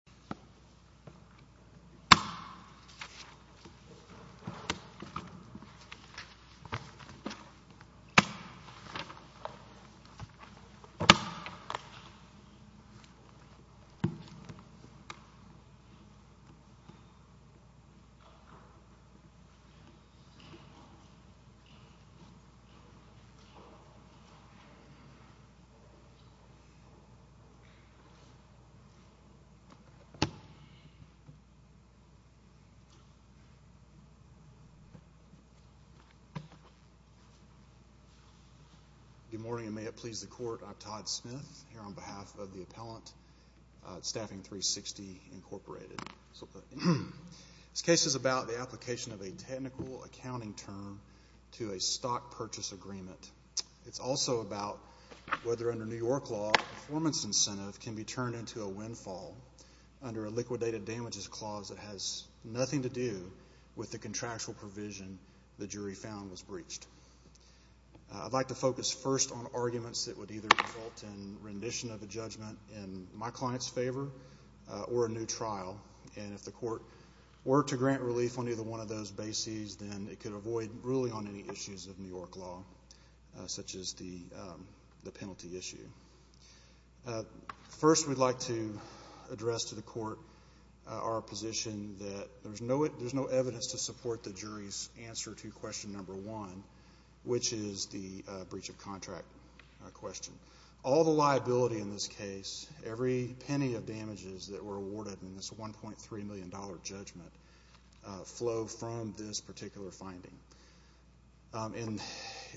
Incorporated v. Staffing 360 Solutions, Incorporated v. Staffing 360 Solutions, Incorporated v. Staffing 360 Solutions, Incoporated v. Staffing 360 Solutions, Incorporated v. Staffing 360 Solutions, Incorporated v. Staffing 360 Solutions, Incorporated v. Staffing 360 Solutions, Incorporated v. Staffing 360 Solutions, Incorporated v. Staffing 360 Solutions, Incorporated v. Staffing 360 Solutions, Incorporated v. Staffing 360 Solutions, Incorporated. Under a liquidated damages clause that has nothing to do with the contractual provision the jury found was breached. I'd like to focus first on arguments that would either result in rendition of a judgment in my client's favor or a new trial. And if the court were to grant relief on either one of those bases, then it could avoid ruling on any issues of New York law, such as the penalty issue. First, we'd like to address to the court our position that there's no evidence to support the jury's answer to question number one, which is the breach of contract question. All the liability in this case, every penny of damages that were awarded in this $1.3 million judgment flow from this particular finding. And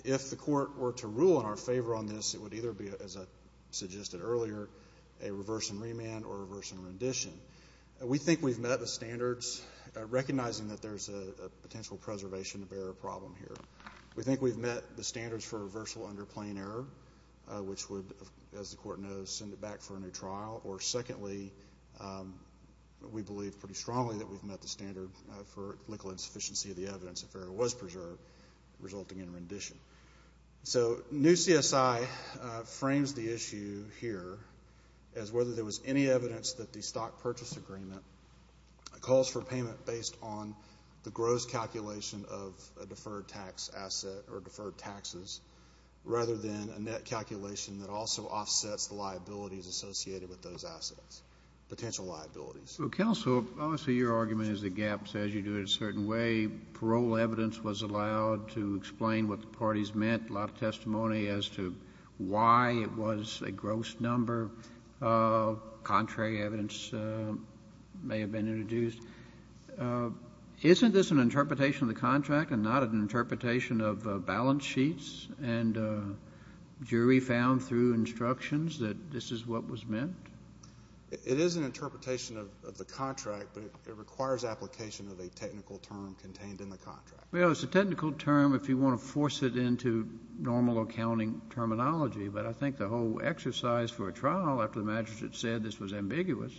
if the court were to rule in favor, as I suggested earlier, a reverse and remand or reverse and rendition, we think we've met the standards, recognizing that there's a potential preservation of error problem here. We think we've met the standards for reversal under plain error, which would, as the court knows, send it back for a new trial. Or secondly, we believe pretty strongly that we've met the standard for legal insufficiency of the evidence if error was preserved, resulting in rendition. So, new CSI frames the issue here as whether there was any evidence that the stock purchase agreement calls for payment based on the gross calculation of a deferred tax asset or deferred taxes, rather than a net calculation that also offsets the liabilities associated with those assets, potential liabilities. Counsel, obviously your argument is the gap says you do it a certain way. Parole evidence was allowed to explain what the parties meant, a lot of testimony as to why it was a gross number. Contrary evidence may have been introduced. Isn't this an interpretation of the contract and not an interpretation of balance sheets and jury found through instructions that this is what was meant? It is an interpretation of the contract, but it requires application of a technical term contained in the contract. Well, it's a technical term if you want to force it into normal accounting terminology, but I think the whole exercise for a trial, after the magistrate said this was ambiguous,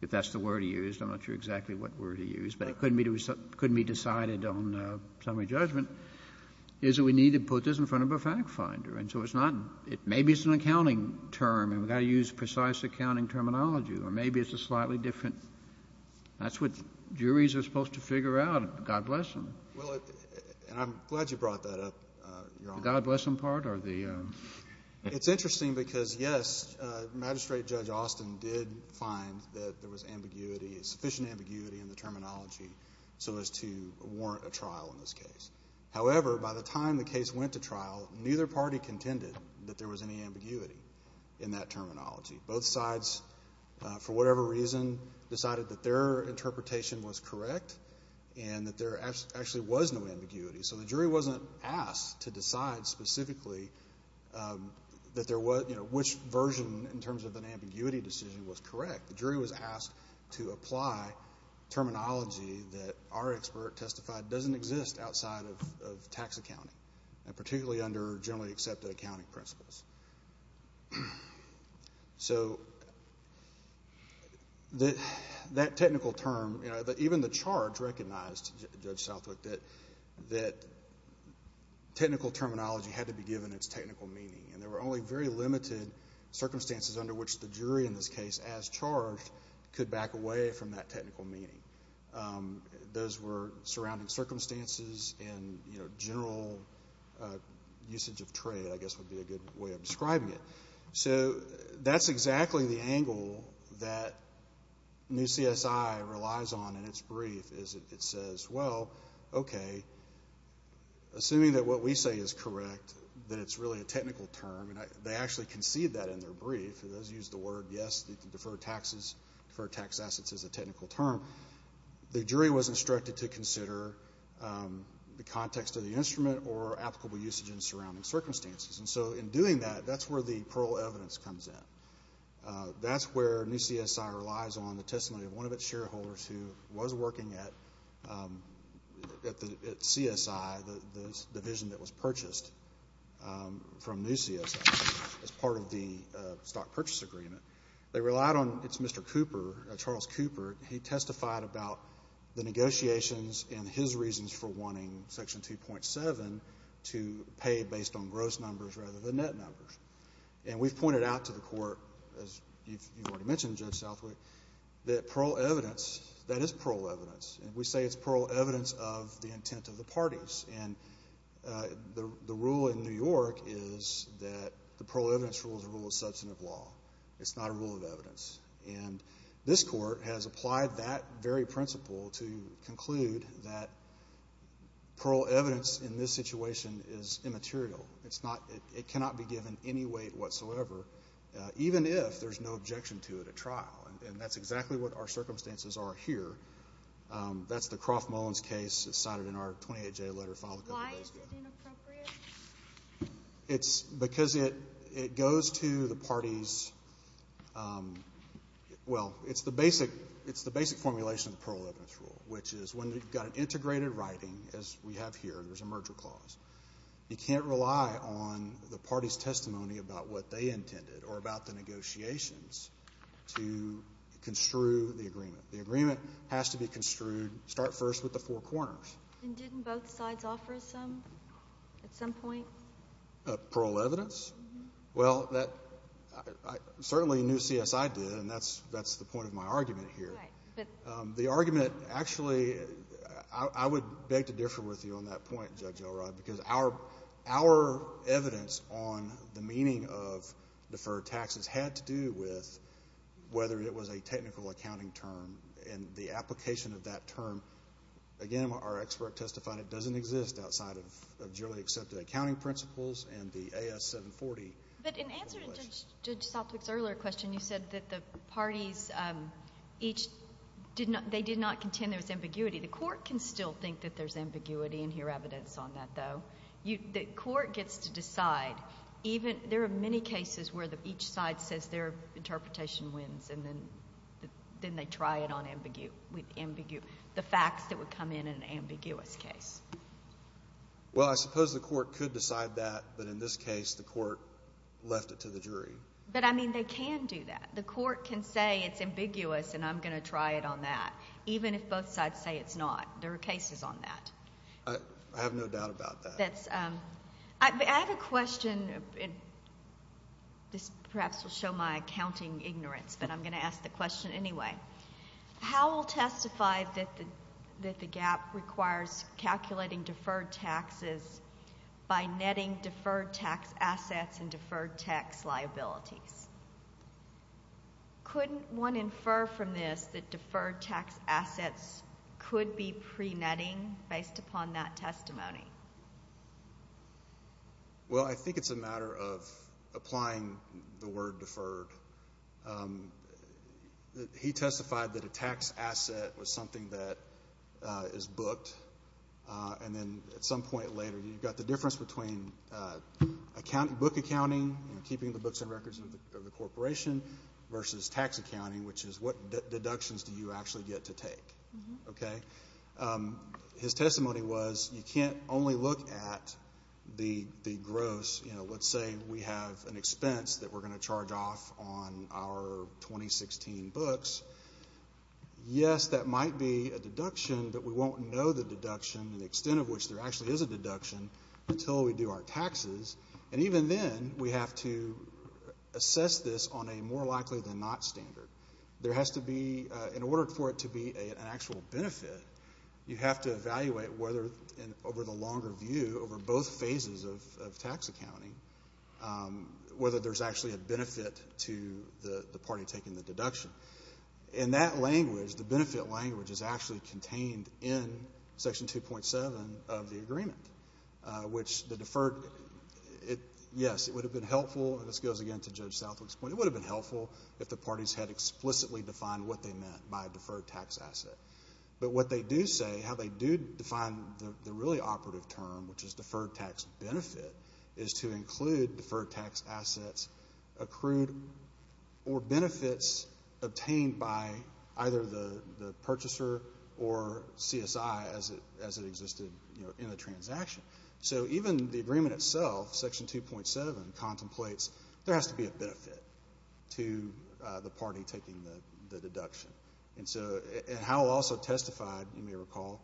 if that's the word he used, I'm not sure exactly what word he used, but it couldn't be decided on summary judgment, is that we need to put this in front of a fact finder. And so it's not — maybe it's an accounting term and we've got to use precise accounting terminology or maybe it's a slightly different — that's what juries are supposed to figure out. God bless them. Well, and I'm glad you brought that up, Your Honor. The God bless them part or the — It's interesting because, yes, Magistrate Judge Austin did find that there was ambiguity, sufficient ambiguity in the terminology so as to warrant a trial in this case. However, by the time the case went to trial, neither party contended that there was any ambiguity in that terminology. Both sides, for whatever reason, decided that their interpretation was correct and that there actually was no ambiguity. So the jury wasn't asked to decide specifically that there was — you know, which version in terms of an ambiguity decision was correct. The jury was asked to apply terminology that our expert testified doesn't exist outside of tax accounting, and particularly under generally accepted accounting principles. So, that technical term, you know, even the charge recognized, Judge Southwick, that technical terminology had to be given its technical meaning and there were only very limited circumstances under which the jury in this case, as charged, could back away from that technical meaning. Those were surrounding circumstances and, you know, general usage of trade, I guess, would be a good way of describing it. So, that's exactly the angle that new CSI relies on in its brief, is it says, well, okay, assuming that what we say is correct, that it's really a technical term, and they actually concede that in their brief. It does use the word, yes, deferred taxes, deferred tax assets is a technical term. The jury was instructed to consider the context of the instrument or applicable usage in the surrounding circumstances. And so, in doing that, that's where the Pearl evidence comes in. That's where new CSI relies on the testimony of one of its shareholders who was working at CSI, the division that was purchased from new CSI as part of the stock purchase agreement. They relied on its shareholder, Mr. Cooper, Charles Cooper. He testified about the negotiations and his reasons for wanting Section 2.7 to pay based on gross numbers rather than net numbers. And we've pointed out to the Court, as you've already mentioned, Judge Southwick, that Pearl evidence, that is Pearl evidence. And we say it's Pearl evidence of the intent of the parties. And the rule in New York is that the Pearl evidence rule is a rule of law. And this Court has applied that very principle to conclude that Pearl evidence in this situation is immaterial. It's not, it cannot be given any weight whatsoever, even if there's no objection to it at trial. And that's exactly what our circumstances are here. That's the Croft Mullins case cited in our 28J letter filed a couple of days ago. Is it inappropriate? It's because it goes to the parties. Well, it's the basic, it's the basic formulation of the Pearl evidence rule, which is when you've got an integrated writing, as we have here, there's a merger clause, you can't rely on the party's testimony about what they intended or about the negotiations to construe the agreement. The agreement has to be construed, start first with the four corners. And didn't both sides offer some, at some point? Pearl evidence? Well, that, certainly New C.S.I. did, and that's the point of my argument here. The argument, actually, I would beg to differ with you on that point, Judge Elrod, because our evidence on the meaning of deferred taxes had to do with whether it was a technical accounting term and the application of that term. Again, our expert testified it doesn't exist outside of generally accepted accounting principles and the A.S. 740 formulation. But in answer to Judge Southwick's earlier question, you said that the parties each did not, they did not contend there was ambiguity. The court can still think that there's ambiguity and hear evidence on that, though. The court gets to decide. Even, there are many cases where each side says their interpretation wins, and then they try it on ambiguity, the facts that would come in an ambiguous case. Well, I suppose the court could decide that, but in this case, the court left it to the jury. But, I mean, they can do that. The court can say it's ambiguous and I'm going to try it on that, even if both sides say it's not. There are cases on that. I have no doubt about that. I have a question. This, perhaps, will show my accounting ignorance, but I'm going to ask the question anyway. How will testify that the gap requires calculating deferred taxes by netting deferred tax assets and deferred tax liabilities? Couldn't one infer from this that deferred tax assets could be pre-netting based upon that testimony? Well, I think it's a matter of applying the word deferred. He testified that a tax asset was something that is booked, and then at some point later, you've got the difference between book accounting, keeping the books and records of the corporation, versus tax deductions do you actually get to take. Okay? His testimony was you can't only look at the gross. You know, let's say we have an expense that we're going to charge off on our 2016 books. Yes, that might be a deduction, but we won't know the deduction and the extent of which there actually is a deduction until we do our taxes. And even then, we have to assess this on a more likely than not standard. There has to be, in order for it to be an actual benefit, you have to evaluate whether in over the longer view, over both phases of tax accounting, whether there's actually a benefit to the party taking the deduction. In that language, the benefit language is actually contained in Section 2.7 of the agreement, which the deferred, yes, it would have been helpful, and this goes again to Judge Southwick's point, it would have been helpful if the parties had explicitly defined what they meant by deferred tax asset. But what they do say, how they do define the really operative term, which is deferred tax benefit, is to include deferred tax assets, accrued, or benefits obtained by either the purchaser or CSI as it existed in the transaction. So even the agreement itself, Section 2.7 contemplates there has to be a benefit to the party taking the deduction. And so, and Howell also testified, you may recall,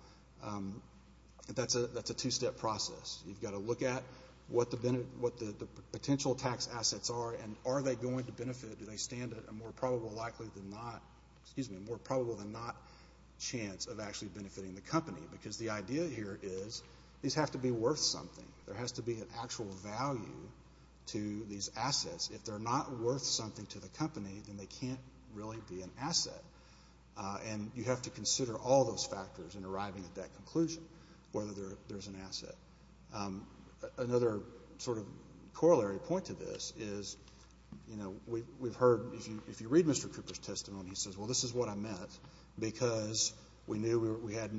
that's a two-step process. You've got to look at what the potential tax assets are, and are they going to benefit, do they stand a more probable than not chance of actually benefiting the company? Because the idea here is these have to be worth something. There has to be an actual value to these assets. If they're not worth something to the company, then they can't really be an asset. And you have to consider all those factors in arriving at that conclusion, whether there's an asset. Another sort of corollary point to this is, you know, we've heard, if you read Mr. Cooper's testimony, he says, well, this is what I meant because we knew we had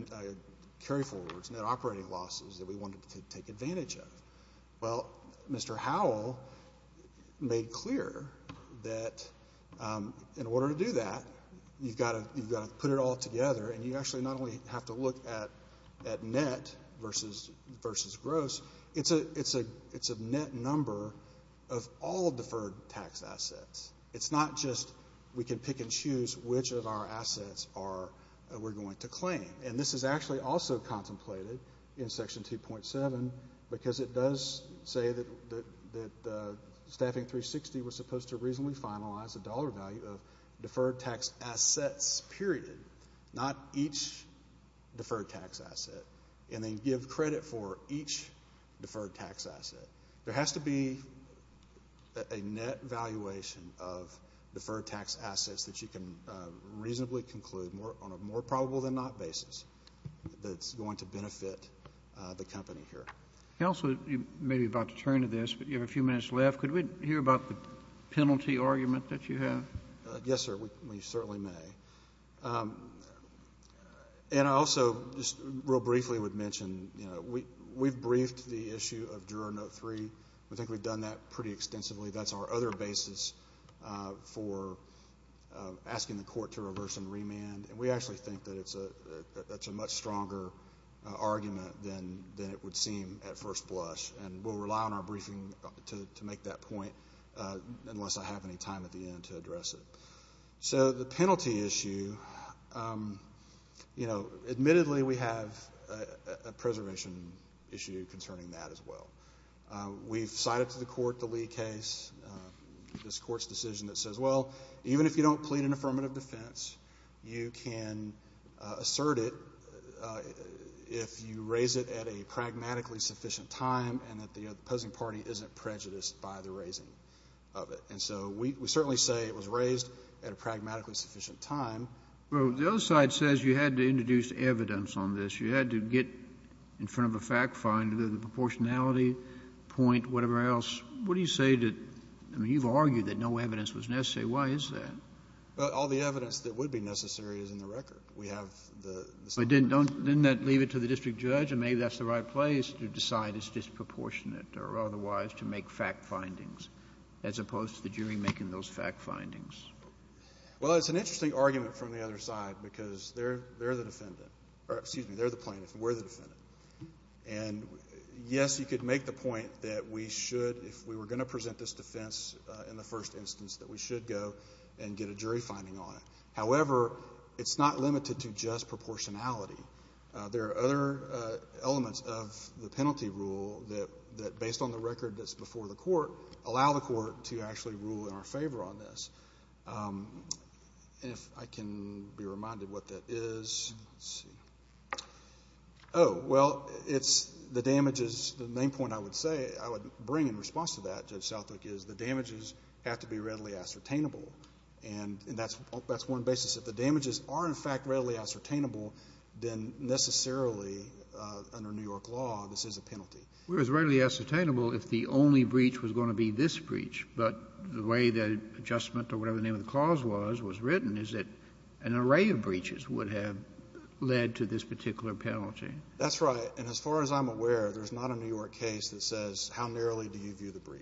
carry-forwards, net operating losses, that we wanted to take advantage of. Well, Mr. Howell made clear that in order to do that, you've got to put it all together, and you actually not only have to look at net versus gross, it's a net number of all assets we're going to claim. And this is actually also contemplated in Section 2.7 because it does say that Staffing 360 was supposed to reasonably finalize the dollar value of deferred tax assets, period, not each deferred tax asset, and then give credit for each deferred tax asset. There has to be a net valuation of deferred tax assets that you can reasonably conclude on a more probable-than-not basis that's going to benefit the company here. Also, you may be about to turn to this, but you have a few minutes left. Could we hear about the penalty argument that you have? Yes, sir, we certainly may. And I also just real briefly would mention, you know, we've briefed the issue of Juror Note 3. We think we've done that pretty extensively. That's our other basis for asking the court to reverse and remand. And we actually think that that's a much stronger argument than it would seem at first blush. And we'll rely on our briefing to make that point unless I have any time at the end to address it. So the penalty issue, you know, admittedly, we have a preservation issue concerning that as well. We've cited to the court the Lee case, this Court's decision that says, well, even if you don't plead an affirmative defense, you can assert it if you raise it at a pragmatically sufficient time and that the opposing party isn't prejudiced by the raising of it. And so we certainly say it was raised at a pragmatically sufficient time. Well, the other side says you had to introduce evidence on this. You had to get in front of a fact finder, the proportionality point, whatever else. What do you say to, I mean, you've argued that no evidence was necessary. Why is that? Well, all the evidence that would be necessary is in the record. We have the separate But didn't that leave it to the district judge? And maybe that's the right place to decide it's disproportionate or otherwise to make fact findings, as opposed to the jury making those fact findings. Well, it's an interesting argument from the other side, because they're the defendant or excuse me, they're the plaintiff, we're the defendant. And yes, you could make the point that we should, if we were going to present this defense in the first instance, that we should go and get a jury finding on it. However, it's not limited to just proportionality. There are other elements of the penalty rule that, based on the record that's before the Court, allow the Court to actually rule in our favor on this. And if I can be reminded what that is, let's see. Oh, well, it's the damages. The main point I would say, I would bring in response to that, Judge Southwick, is the damages have to be readily ascertainable. And that's one basis. If the damages are, in fact, readily ascertainable, then necessarily under New York law, this is a penalty. It was readily ascertainable if the only breach was going to be this breach. But the way the adjustment or whatever the name of the clause was, was written, is that an array of breaches would have led to this particular penalty. That's right. And as far as I'm aware, there's not a New York case that says, how narrowly do you view the breach?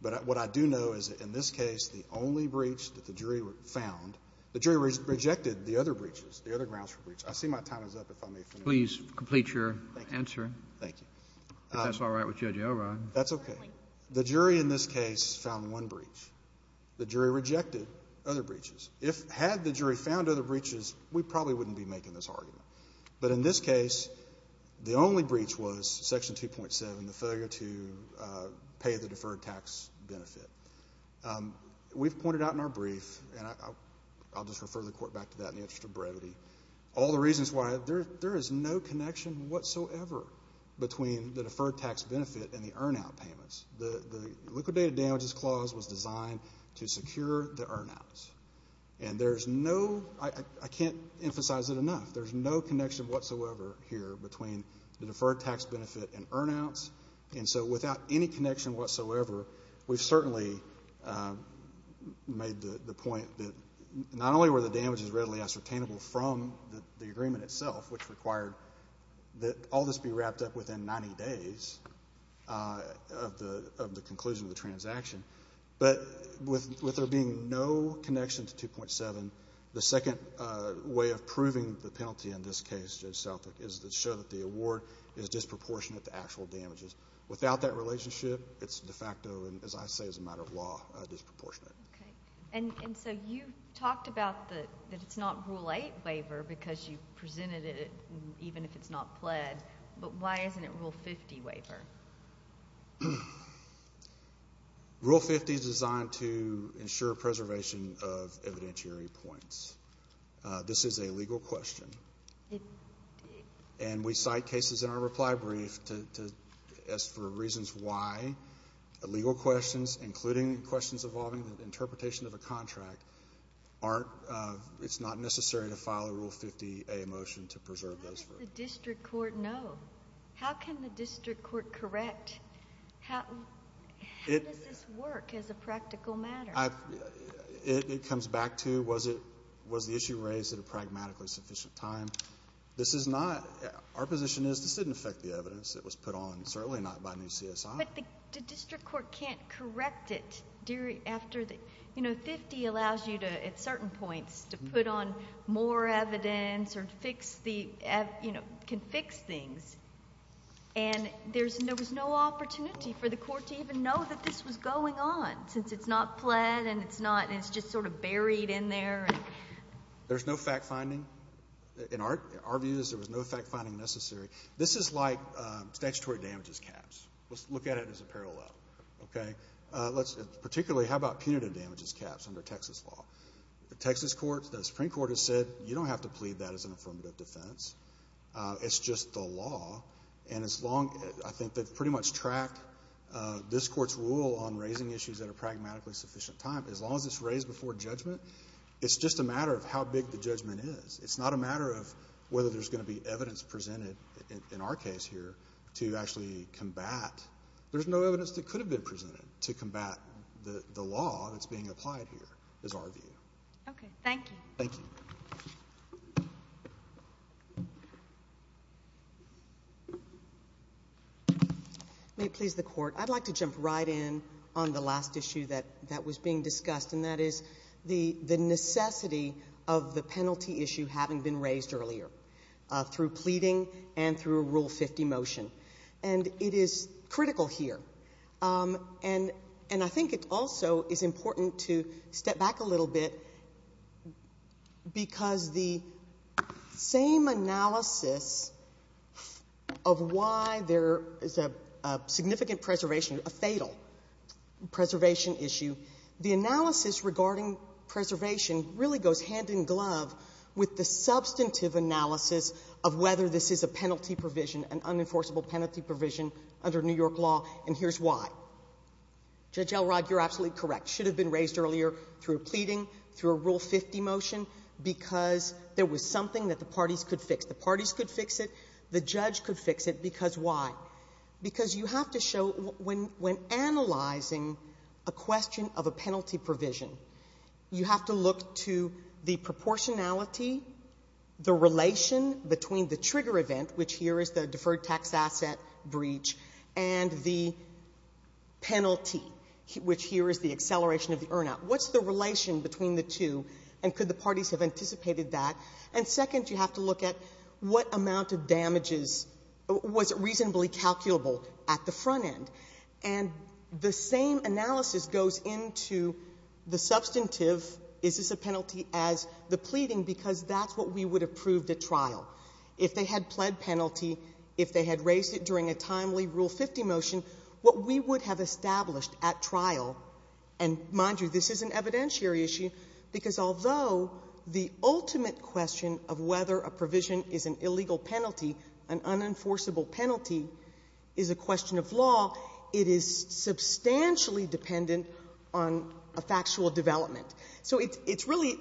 But what I do know is that in this case, the only breach that the jury found, the jury rejected the other breaches, the other grounds for breach. I see my time is up, if I may finish. Please complete your answer. Thank you. If that's all right with Judge O'Rourke. That's okay. The jury in this case found one breach. The jury rejected other breaches. Had the jury found other breaches, we probably wouldn't be making this argument. But in this case, the only breach was Section 2.7, the failure to pay the deferred tax benefit. We've pointed out in our brief, and I'll just refer the Court back to that in the interest of brevity, all the reasons why there is no connection whatsoever between the deferred tax benefit and the earn-out payments. The liquidated damages clause was designed to secure the earn-outs. And there's no, I can't emphasize it enough, there's no connection whatsoever here between the deferred tax benefit and earn-outs. And so without any connection whatsoever, we've certainly made the point that not only were the damages readily ascertainable from the conclusion of the transaction, but with there being no connection to 2.7, the second way of proving the penalty in this case, Judge Southwick, is to show that the award is disproportionate to actual damages. Without that relationship, it's de facto, and as I say, as a matter of law, disproportionate. Okay. And so you talked about that it's not Rule 8 waiver because you presented it even if it's not pled, but why isn't it Rule 50 waiver? Rule 50 is designed to ensure preservation of evidentiary points. This is a legal question. And we cite cases in our reply brief to, as for reasons why, the legal questions, including questions involving the interpretation of a contract, aren't, it's not necessary to file a Rule 50A motion to preserve those. How does the district court know? How can the district court correct? How does this work as a practical matter? It comes back to, was the issue raised at a pragmatically sufficient time? This is not, our position is this didn't affect the evidence that was put on, certainly not by new CSI. But the district court can't correct it after the, you know, 50 allows you to, at certain or fix the, you know, can fix things. And there's, there was no opportunity for the court to even know that this was going on, since it's not pled and it's not, it's just sort of buried in there. There's no fact-finding. In our, our view is there was no fact-finding necessary. This is like statutory damages caps. Let's look at it as a parallel. Okay. Let's, particularly how about punitive damages caps under Texas law? The Texas courts, the Supreme Court has said you don't have to plead that as an affirmative defense. It's just the law. And as long, I think they've pretty much tracked this Court's rule on raising issues that are pragmatically sufficient time. As long as it's raised before judgment, it's just a matter of how big the judgment is. It's not a matter of whether there's going to be evidence presented in our case here to actually combat. There's no evidence that could have been presented to combat the law that's being applied here, is our view. Okay. Thank you. May it please the Court. I'd like to jump right in on the last issue that, that was being discussed, and that is the, the necessity of the penalty issue having been raised earlier through pleading and through a Rule 50 motion. And it is critical here. And, and I think it also is important to step back a little bit because the same analysis of why there is a, a significant preservation, a fatal preservation issue, the analysis regarding preservation really goes hand in glove with the substantive analysis of whether this is a penalty provision, an unenforceable penalty provision under New York law, and here's why. Judge Elrod, you're absolutely correct. It should have been raised earlier through pleading, through a Rule 50 motion, because there was something that the parties could fix. The parties could fix it. The judge could fix it. Because why? Because you have to show, when, when analyzing a question of a penalty provision, you have to look to the proportionality, the relation between the trigger event, which here is the deferred tax asset breach, and the penalty, which here is the acceleration of the earn-out. What's the relation between the two, and could the parties have anticipated that? And second, you have to look at what amount of damages was reasonably calculable at the front end. And the same analysis goes into the substantive, is this a penalty, as the pleading, because that's what we would have proved at trial. If they had pled penalty, if they had raised it during a timely Rule 50 motion, what we would have established at trial, and mind you, this is an evidentiary issue, because although the ultimate question of whether a provision is an illegal penalty, an unenforceable penalty, is a question of law, it is substantially dependent on a factual development. So it's really,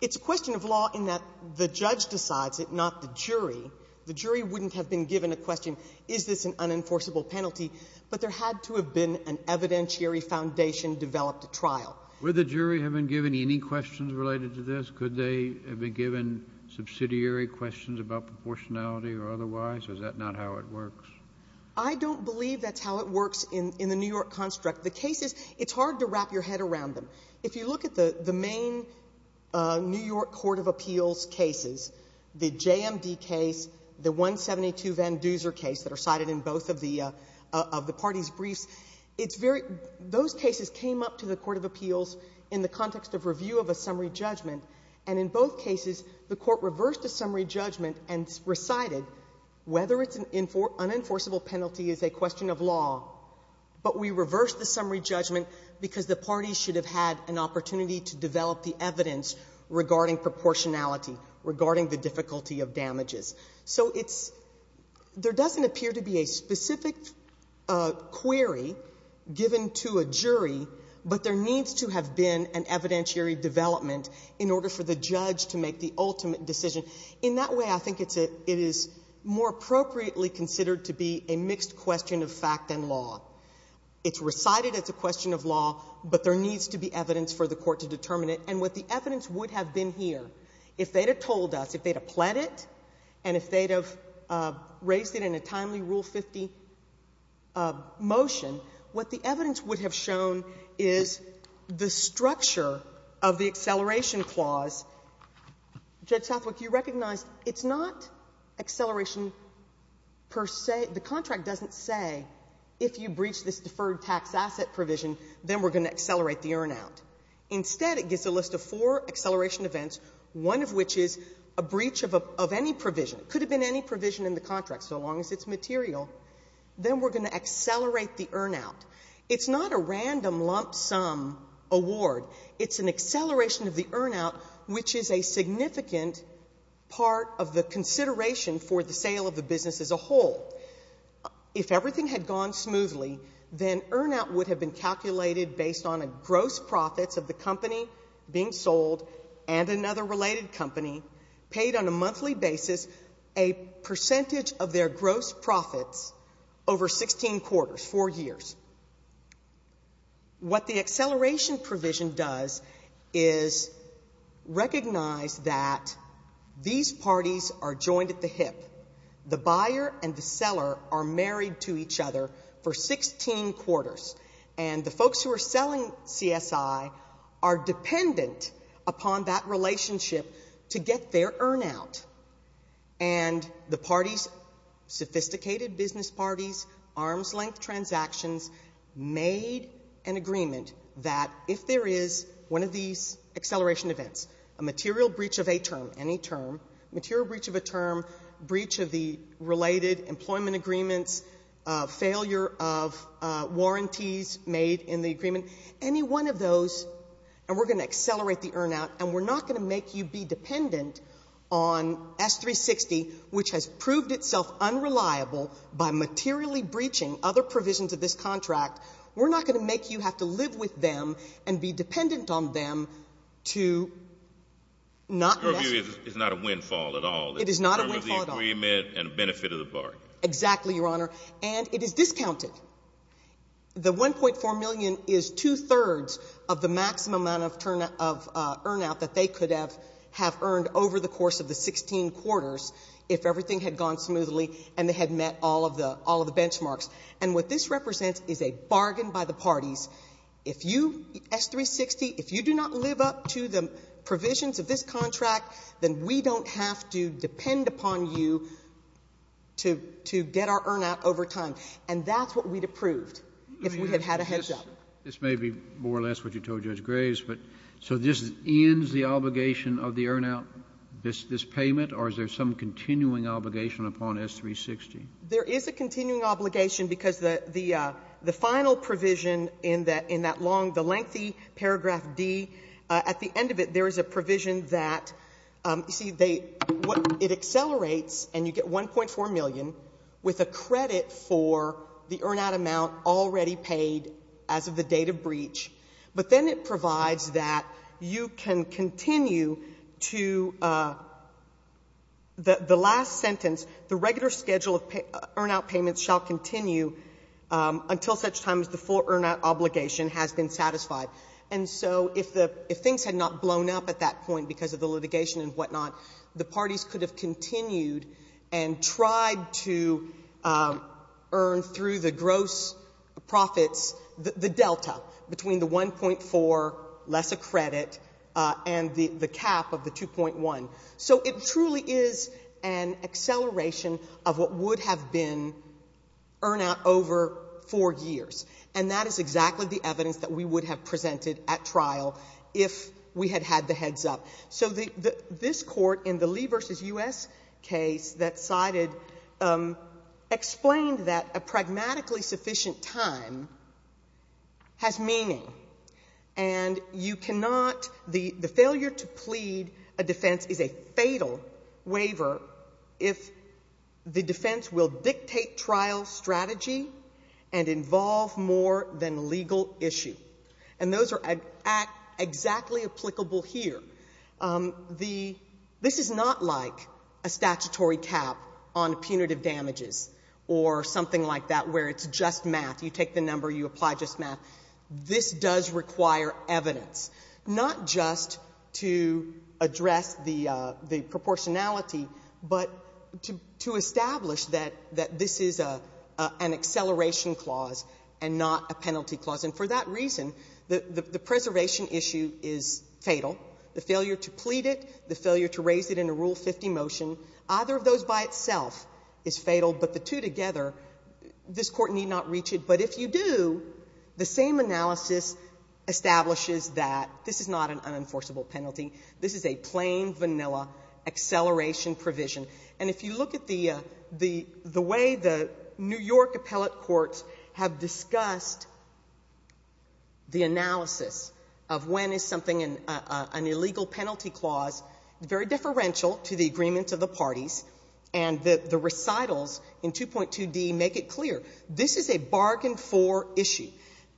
it's a question of law in that the judge decides it, not the jury. The jury wouldn't have been given a question, is this an unenforceable penalty, but there had to have been an evidentiary foundation developed at trial. Would the jury have been given any questions related to this? Could they have been given subsidiary questions about proportionality or otherwise, or is that not how it works? I don't believe that's how it works in the New York construct. The cases, it's hard to wrap your head around them. If you look at the main New York court of appeals cases, the JMD case, the 172 Van Duzer case that are cited in both of the parties' briefs, it's very, those cases came up to the court of appeals in the context of review of a summary judgment, and in both cases, the court reversed the summary judgment and recited whether it's an unenforceable penalty is a question of law, but we reversed the summary judgment because the parties should have had an opportunity to develop the evidence regarding proportionality, regarding the difficulty of damages. So it's, there doesn't appear to be a specific query given to a jury, but there needs to have been an evidentiary development in order for the judge to make the ultimate decision. In that way, I think it's a, it is more appropriately considered to be a mixed question of fact than law. It's recited as a question of law, but there isn't, and what the evidence would have been here, if they'd have told us, if they'd have pled it, and if they'd have raised it in a timely Rule 50 motion, what the evidence would have shown is the structure of the acceleration clause. Judge Southwick, you recognize it's not acceleration per se, the contract doesn't say if you breach this deferred tax asset provision, then we're going to accelerate the earn out. Instead, it gives a list of four acceleration events, one of which is a breach of any provision. It could have been any provision in the contract, so long as it's material. Then we're going to accelerate the earn out. It's not a random lump sum award. It's an acceleration of the earn out, which is a significant part of the consideration for the sale of the business as a whole. If everything had gone smoothly, then earn out would have been calculated based on gross profits of the company being sold and another related company paid on a monthly basis a percentage of their gross profits over 16 quarters, four years. What the acceleration provision does is recognize that these parties are joined at the hip. The buyer and the seller are married to each other for 16 quarters. And the folks who are selling CSI are dependent upon that relationship to get their earn out. And the parties, sophisticated business parties, arm's length transactions, made an agreement that if there is one of these acceleration events, a material breach of a term, any term, material breach of a term, breach of the related employment agreements, failure of warranties made in the agreement, any one of those, and we're going to accelerate the earn out, and we're not going to make you be dependent on S360, which has proved itself unreliable by materially breaching other provisions of this contract. We're not going to make you have to live with them and be dependent on them to not mess with you. So it's not a windfall at all? It is not a windfall at all. In terms of the agreement and benefit of the bargain. Exactly, Your Honor. And it is discounted. The $1.4 million is two-thirds of the maximum amount of earn out that they could have earned over the course of the 16 quarters if everything had gone smoothly and they had met all of the benchmarks. And what this represents is a bargain by the parties. If you, S360, if you do not live up to the provisions of this contract, then we don't have to depend upon you to get our earn out over time. And that's what we'd have proved if we had had a heads-up. This may be more or less what you told Judge Graves, but so this ends the obligation of the earn out, this payment, or is there some continuing obligation upon S360? There is a continuing obligation because the final provision in that long, the lengthy paragraph D, at the end of it there is a provision that, you see, they, it accelerates and you get $1.4 million with a credit for the earn out amount already paid as of the date of breach. But then it provides that you can continue to, the last sentence, the regular schedule of earn out payments shall continue until such time as the full earn out obligation has been satisfied. And so if the, if things had not blown up at that point because of the litigation and whatnot, the parties could have continued and tried to earn through the gross profits, the delta between the 1.4, less a credit, and the cap of the 2.1. So it truly is an acceleration of what would have been earn out over 4 years. And that is exactly the evidence that we would have presented at trial if we had had the heads up. So the, this court in the Lee v. U.S. case that cited, explained that a pragmatically sufficient time has meaning. And you cannot, the failure to plead, the failure to plead a defense is a fatal waiver if the defense will dictate trial strategy and involve more than legal issue. And those are exactly applicable here. The, this is not like a statutory cap on punitive damages or something like that where it's just math. You take the number, you apply just math. This does require evidence, not just to address the proportionality, but to establish that this is an acceleration clause and not a penalty clause. And for that reason, the preservation issue is fatal. The failure to plead it, the failure to raise it in a Rule 50 motion, either of those by itself is fatal. But the two together, this two, the same analysis establishes that this is not an unenforceable penalty. This is a plain vanilla acceleration provision. And if you look at the way the New York Appellate Courts have discussed the analysis of when is something, an illegal penalty clause, very differential to the agreement of the parties. And the recitals in 2.2D make it clear. This is a bargain-for issue.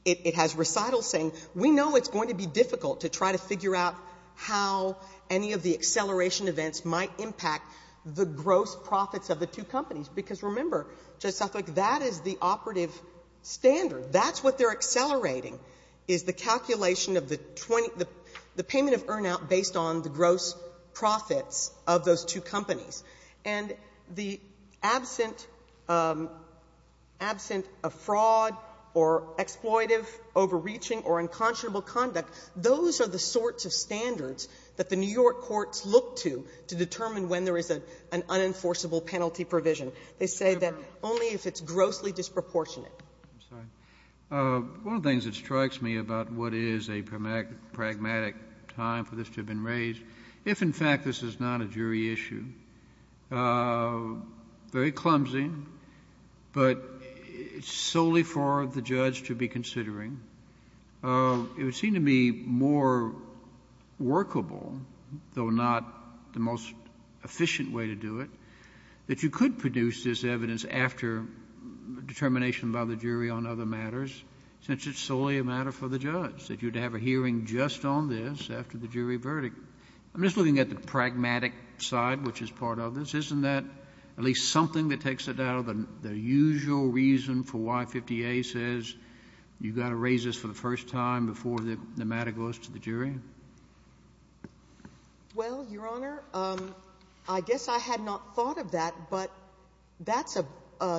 It has recitals saying, we know it's going to be difficult to try to figure out how any of the acceleration events might impact the gross profits of the two companies. Because, remember, Judge Southwick, that is the operative standard. That's what they're accelerating, is the calculation of the 20, the payment of earn-out based on the gross profits of those two companies. And the absent of fraud or exploitive overreaching or unconscionable conduct, those are the sorts of standards that the New York Courts look to to determine when there is an unenforceable penalty provision. They say that only if it's grossly disproportionate. Kennedy. One of the things that strikes me about what is a pragmatic time for this to have been raised, if, in fact, this is not a jury issue, very clumsy, but solely for the judge to be considering, it would seem to be more workable, though not the most efficient way to do it, that you could produce this evidence after determination by the jury on other matters, since it's solely a matter for the judge, that you'd have a hearing just on this after the jury verdict. I'm just looking at the pragmatic side, which is part of this. Isn't that at least something that takes it out of the usual reason for why 50A says you've got to raise this for the first time before the matter goes to the jury? Well, Your Honor, I guess I had not thought of that, but that's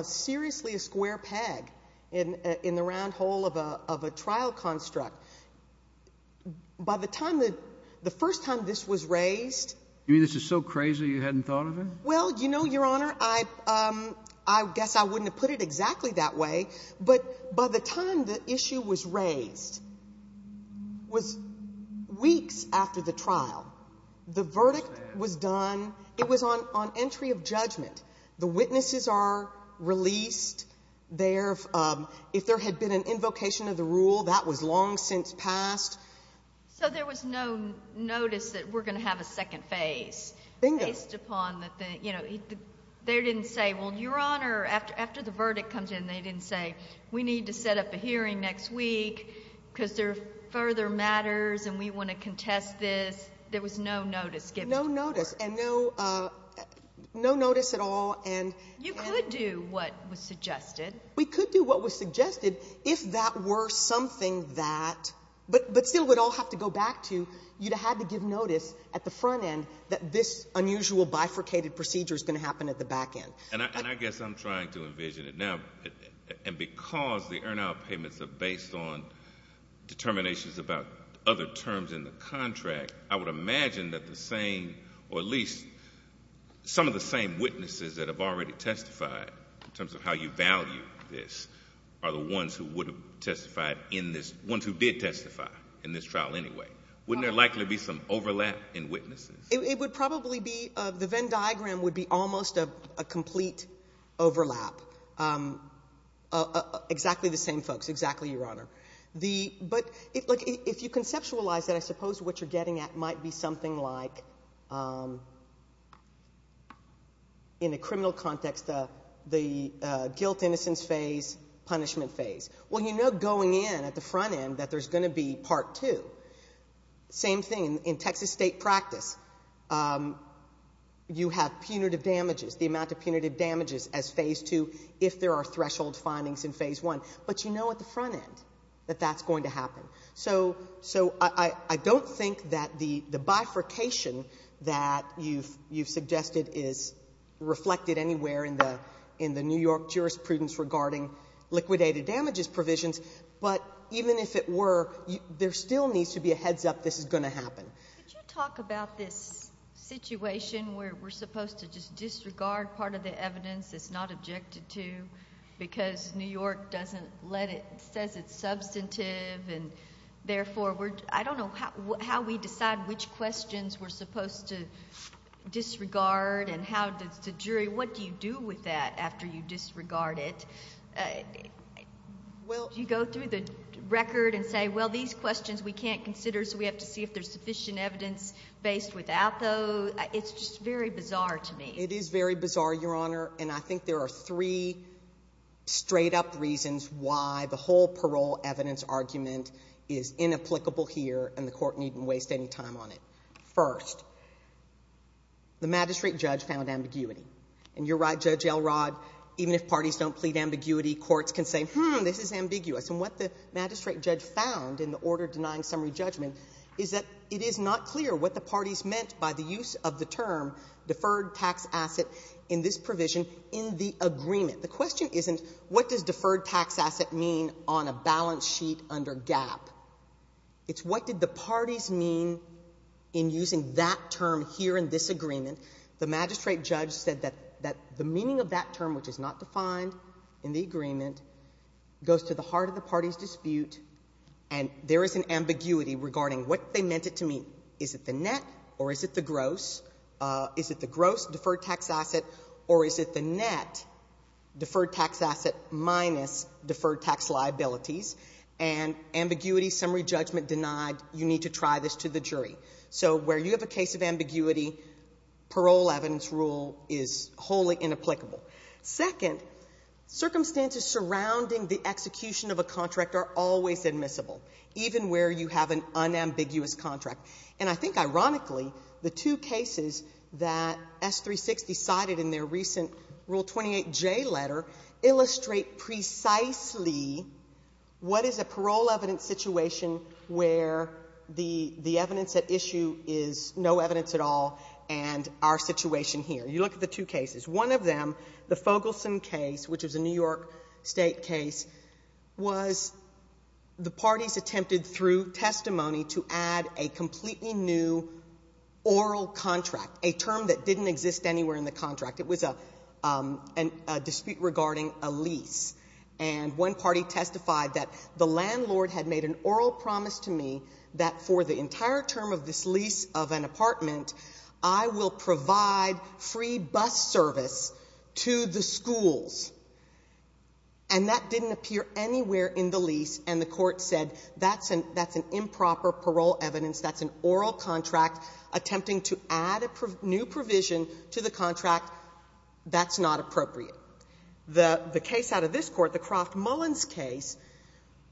seriously a square peg in the round hole of a trial construct. By the time that the first time this was raised You mean this is so crazy you hadn't thought of it? Well, you know, Your Honor, I guess I wouldn't have put it exactly that way, but by the time the issue was raised, was weeks after the trial, the verdict was done, it was on entry of judgment. The witnesses are released. If there had been an invocation of the rule, that was long since passed. So there was no notice that we're going to have a second phase, based upon the, you know, they didn't say, well, Your Honor, after the verdict comes in, they didn't say, we need to set up a hearing next week because there are further matters and we want to contest this. There was no notice given to her. No notice. And no notice at all. You could do what was suggested. We could do what was suggested if that were something that, but still we'd all have to go back to, you'd have had to give notice at the front end that this unusual bifurcated procedure is going to happen at the back end. And I guess I'm trying to envision it. Now, and because the earn-out payments are based on determinations about other terms in the contract, I would imagine that the same, or at least some of the same witnesses that have already testified, in terms of how you value this, are the ones who would have testified in this, ones who did testify in this trial anyway. Wouldn't there likely be some overlap in witnesses? It would probably be, the Venn diagram would be almost a complete overlap. Exactly the same. But if you conceptualize it, I suppose what you're getting at might be something like, in a criminal context, the guilt-innocence phase, punishment phase. Well, you know going in at the front end that there's going to be part two. Same thing in Texas state practice. You have punitive damages, the amount of punitive damages as phase two, if there are threshold findings in phase one. But you know at the front end that that's going to happen. So I don't think that the bifurcation that you've suggested is reflected anywhere in the New York jurisprudence regarding liquidated damages provisions. But even if it were, there still needs to be a heads-up this is going to happen. Could you talk about this situation where we're supposed to just disregard part of the evidence that's not objected to because New York doesn't let it, says it's substantive and therefore we're, I don't know how we decide which questions we're supposed to disregard and how does the jury, what do you do with that after you disregard it? Do you go through the record and say, well these questions we can't consider so we have to see if there's sufficient evidence based without those? It's just very bizarre to me. It is very bizarre, Your Honor. And I think there are three straight up reasons why the whole parole evidence argument is inapplicable here and the court needn't waste any time on it. First, the magistrate judge found ambiguity. And you're right, Judge Elrod, even if parties don't plead ambiguity, courts can say, hmm, this is ambiguous. And what the magistrate judge found in the order denying summary judgment is that it is not clear what the parties meant by the use of the term deferred tax asset in this provision in the agreement. The question isn't what does deferred tax asset mean on a balance sheet under GAAP. It's what did the parties mean in using that term here in this agreement. The magistrate judge said that the meaning of that term, which is not defined in the agreement, goes to the heart of the party's dispute and there is an ambiguity regarding what they meant it to mean. Is it the net or is it the gross? Is it the gross deferred tax asset or is it the net deferred tax asset minus deferred tax liabilities? And ambiguity, summary judgment denied, you need to try this to the jury. So where you have a case of ambiguity, parole evidence rule is wholly inapplicable. Second, circumstances surrounding the execution of a contract are always admissible. Even where you have an unambiguous contract. And I think ironically, the two cases that S360 cited in their recent Rule 28J letter illustrate precisely what is a parole evidence situation where the evidence at issue is no evidence at all and our situation here. You look at the two cases. One of them, the Fogelson case, which is a New York State case, was the parties attempted through testimony to add a completely new oral contract, a term that didn't exist anywhere in the contract. It was a dispute regarding a lease. And one party testified that the landlord had made an oral promise to me that for the entire term of this lease of an apartment, I will provide free bus service to the schools. And that didn't appear anywhere in the lease, and the Court said that's an improper parole evidence, that's an oral contract, attempting to add a new provision to the contract, that's not appropriate. The case out of this Court, the Croft-Mullins case,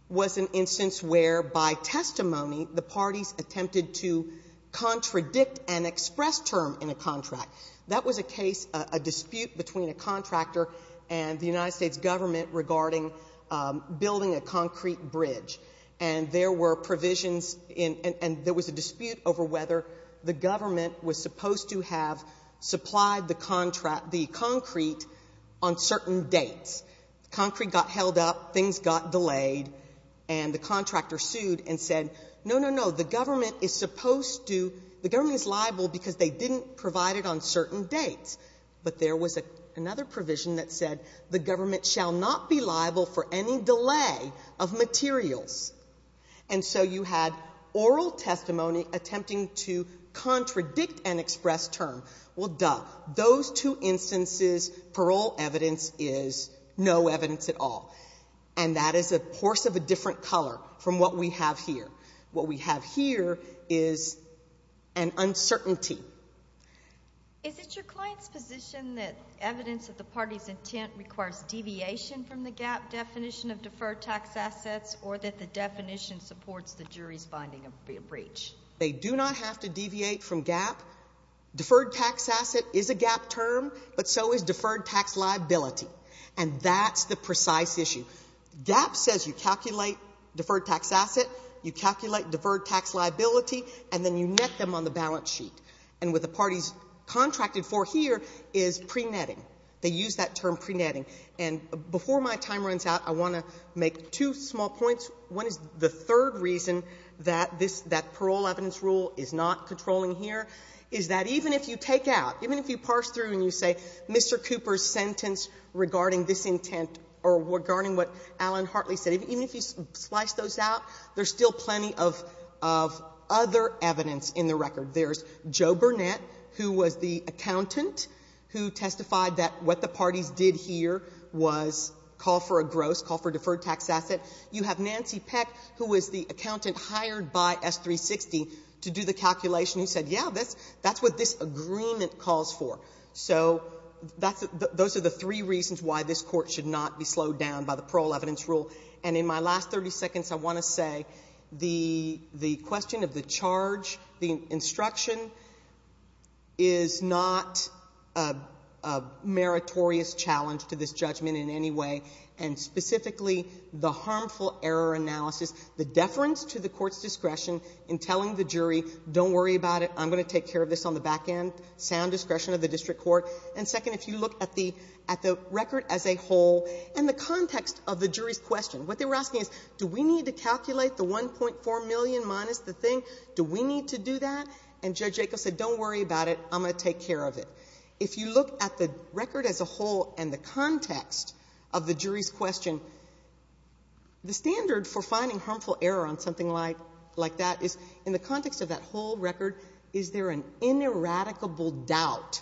was an instance where by testimony the parties attempted to contradict an express term in a contract. That was a case, a dispute between a contractor and the United States government regarding building a concrete bridge. And there were provisions in — and there was a dispute over whether the government was supposed to have supplied the concrete on certain dates. The concrete got held up, things got delayed, and the contractor sued and said, no, no, no, the government is supposed to — the government is liable because they didn't provide it on certain dates. But there was another provision that said the government shall not be liable for any delay of materials. And so you had oral testimony attempting to contradict an express term. Well, duh. Those two instances, parole evidence is no evidence at all. And that is a horse of a different color from what we have here. What we have here is an uncertainty. Is it your client's position that evidence of the party's intent requires deviation from the GAAP definition of deferred tax assets or that the definition supports the jury's finding of a breach? They do not have to deviate from GAAP. Deferred tax asset is a GAAP term, but so is deferred tax liability. And that's the precise issue. GAAP says you calculate deferred tax asset, you calculate deferred tax liability, and then you net them on the balance sheet. And what the party's contracted for here is pre-netting. They use that term pre-netting. And before my time runs out, I want to make two small points. One is the third reason that this — that parole evidence rule is not controlling here is that even if you take out, even if you parse through and you say, Mr. Cooper's sentence regarding this intent or regarding what Alan Hartley said, even if you slice those out, there's still plenty of other evidence in the record. There's Joe Burnett, who was the accountant who testified that what the parties did here was call for a gross, call for a deferred tax asset. You have Nancy Peck, who was the accountant hired by S360 to do the calculation, who said, yeah, that's what this agreement calls for. So that's — those are the three reasons why this Court should not be slowed down by the parole evidence rule. And in my last 30 seconds, I want to say the question of the charge, the instruction is not a meritorious challenge to this judgment in any way, and specifically the harmful error analysis, the deference to the Court's discretion in telling the jury, don't worry about it, I'm going to take care of this on the back end, sound discretion of the district court. And second, if you look at the — at the record as a whole and the context of the jury's question, what they were asking is, do we need to calculate the $1.4 million minus the thing? Do we need to do that? And Judge Jacobs said, don't worry about it, I'm going to take care of it. If you look at the record as a whole and the context of the jury's question, the standard for finding harmful error on something like — like that is, in the context of that whole record, is there an ineradicable doubt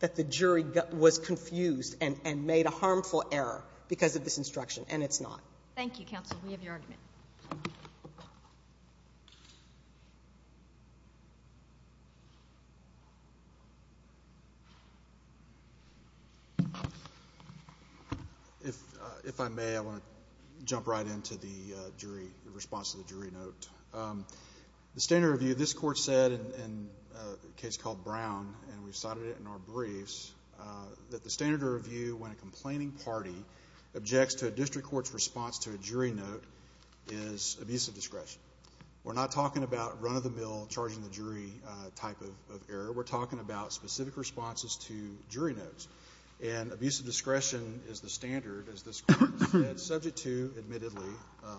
that the jury was confused and made a harmful error because of this instruction? And it's not. Thank you, counsel. We have your argument. Thank you. If I may, I want to jump right into the jury — the response to the jury note. The standard review, this Court said in a case called Brown, and we cited it in our briefs, that the standard review, when a complaining party objects to a district court's response to a jury note, is abusive discretion. We're not talking about run-of-the-mill, charging-the-jury type of error. We're talking about specific responses to jury notes. And abusive discretion is the standard, as this Court said, subject to, admittedly,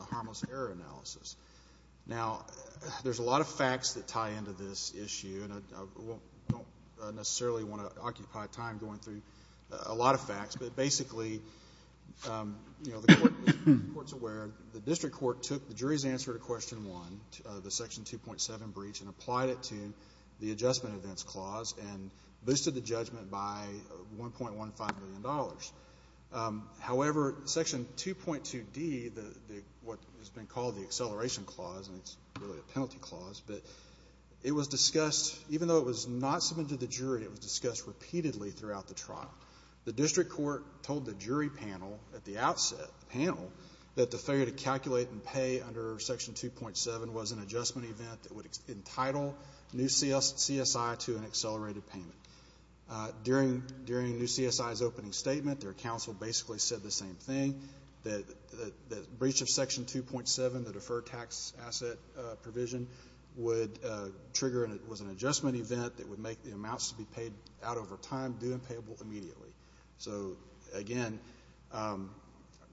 harmless error analysis. Now, there's a lot of facts that tie into this issue, and I don't necessarily want to occupy time going through a lot of facts, but basically, the Court's aware the district court took the jury's answer to Question 1, the Section 2.7 breach, and applied it to the Adjustment Events Clause and boosted the judgment by $1.15 million. However, Section 2.2d, what has been called the Acceleration Clause, and it's really a penalty clause, but it was discussed — even though it was not submitted to the jury, it was discussed repeatedly throughout the trial. The district court told the jury panel at the outset, the panel, that the failure to calculate and pay under Section 2.7 was an adjustment event that would entitle new CSI to an accelerated payment. During new CSI's opening statement, their counsel basically said the same thing, that the breach of Section 2.7, the deferred tax asset provision, would trigger and it was an adjustment event that would make the amounts to be paid out over time due and payable immediately. So, again,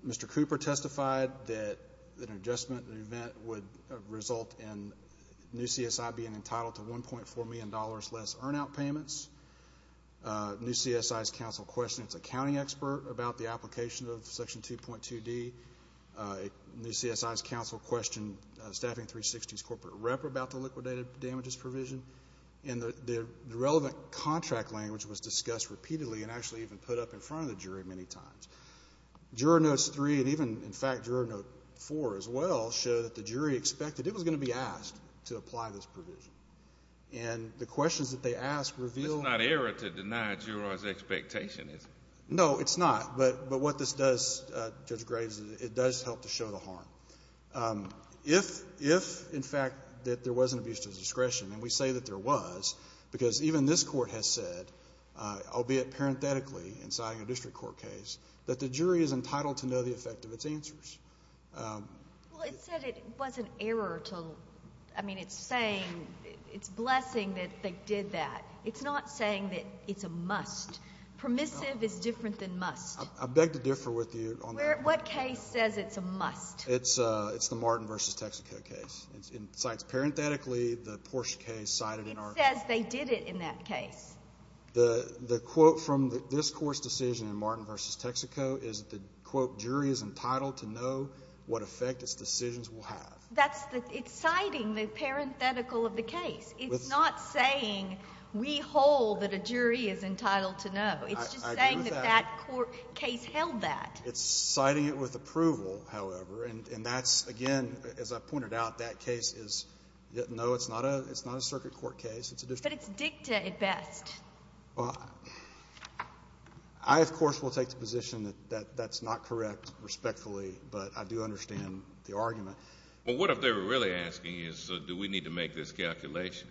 Mr. Cooper testified that an adjustment event would result in new CSI being entitled to $1.4 million less earn-out payments. New CSI's counsel questioned its accounting expert about the application of Section 2.2d. New CSI's counsel questioned Staffing 360's corporate rep about the liquidated damages provision. And the relevant contract language was discussed repeatedly and actually even put up in front of the jury many times. Juror Notes 3 and even, in fact, Juror Note 4, as well, show that the jury expected it was going to be asked to apply this provision. And the questions that they asked revealed — It's not error to deny a juror's expectation, is it? No, it's not. But what this does, Judge Graves, it does help to show the harm. If, in fact, that there was an abuse of discretion, and we say that there was, because even this court has said, albeit parenthetically in signing a district court case, that the jury is entitled to know the effect of its answers. Well, it said it was an error to — I mean, it's saying — it's blessing that they did that. It's not saying that it's a must. Permissive is different than must. I beg to differ with you on that. What case says it's a must? It's the Martin v. Texaco case. It cites parenthetically the Porsche case cited in our — It says they did it in that case. The quote from this court's decision in Martin v. Texaco is the, quote, jury is entitled to know what effect its decisions will have. That's the — it's citing the parenthetical of the case. It's not saying we hold that a jury is entitled to know. I agree with that. It's just saying that that court case held that. It's citing it with approval, however. And that's, again, as I pointed out, that case is — no, it's not a circuit court case. It's a district court case. But it's dicta at best. Well, I, of course, will take the position that that's not correct, respectfully. But I do understand the argument. Well, what if they were really asking you, so do we need to make this calculation?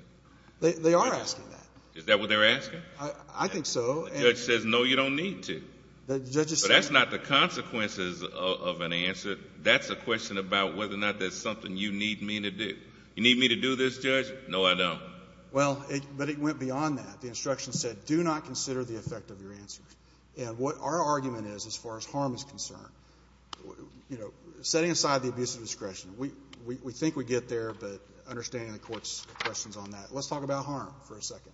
They are asking that. Is that what they're asking? I think so. The judge says, no, you don't need to. But that's not the consequences of an answer. That's a question about whether or not there's something you need me to do. You need me to do this, Judge? No, I don't. Well, but it went beyond that. The instruction said, do not consider the effect of your answers. And what our argument is, as far as harm is concerned, you know, setting aside the abuse of discretion, we think we get there, but understanding the court's questions on that. Let's talk about harm for a second.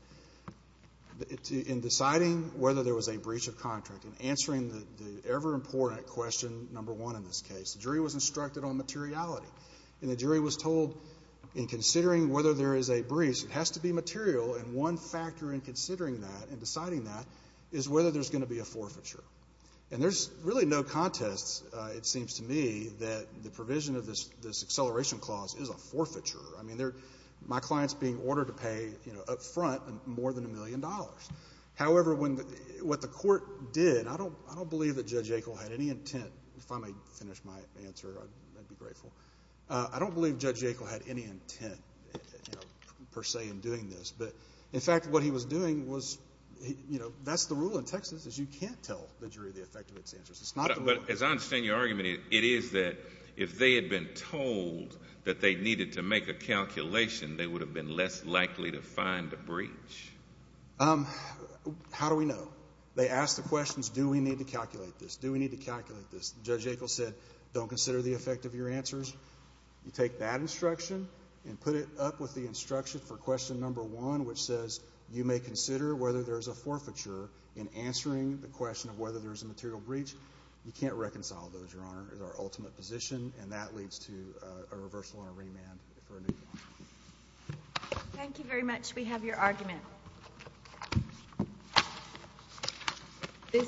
In deciding whether there was a breach of contract, in answering the ever-important question, number one in this case, the jury was instructed on materiality. And the jury was told, in considering whether there is a breach, it has to be material. And one factor in considering that and deciding that is whether there's going to be a forfeiture. And there's really no contest, it seems to me, that the provision of this acceleration clause is a forfeiture. I mean, my client's being ordered to pay up front more than a million dollars. However, what the court did, I don't believe that Judge Yackel had any intent. If I may finish my answer, I'd be grateful. I don't believe Judge Yackel had any intent, per se, in doing this. But, in fact, what he was doing was, you know, that's the rule in Texas is you can't tell the jury the effect of its answers. It's not the rule. But as I understand your argument, it is that if they had been told that they needed to make a calculation, they would have been less likely to find a breach. How do we know? They ask the questions, do we need to calculate this? Do we need to calculate this? Judge Yackel said, don't consider the effect of your answers. You take that instruction and put it up with the instruction for question number one, which says you may consider whether there's a forfeiture in answering the question of whether there's a material breach. You can't reconcile those, Your Honor. It's our ultimate position, and that leads to a reversal and a remand for a new one. Thank you very much. We have your argument. This concludes the hearing.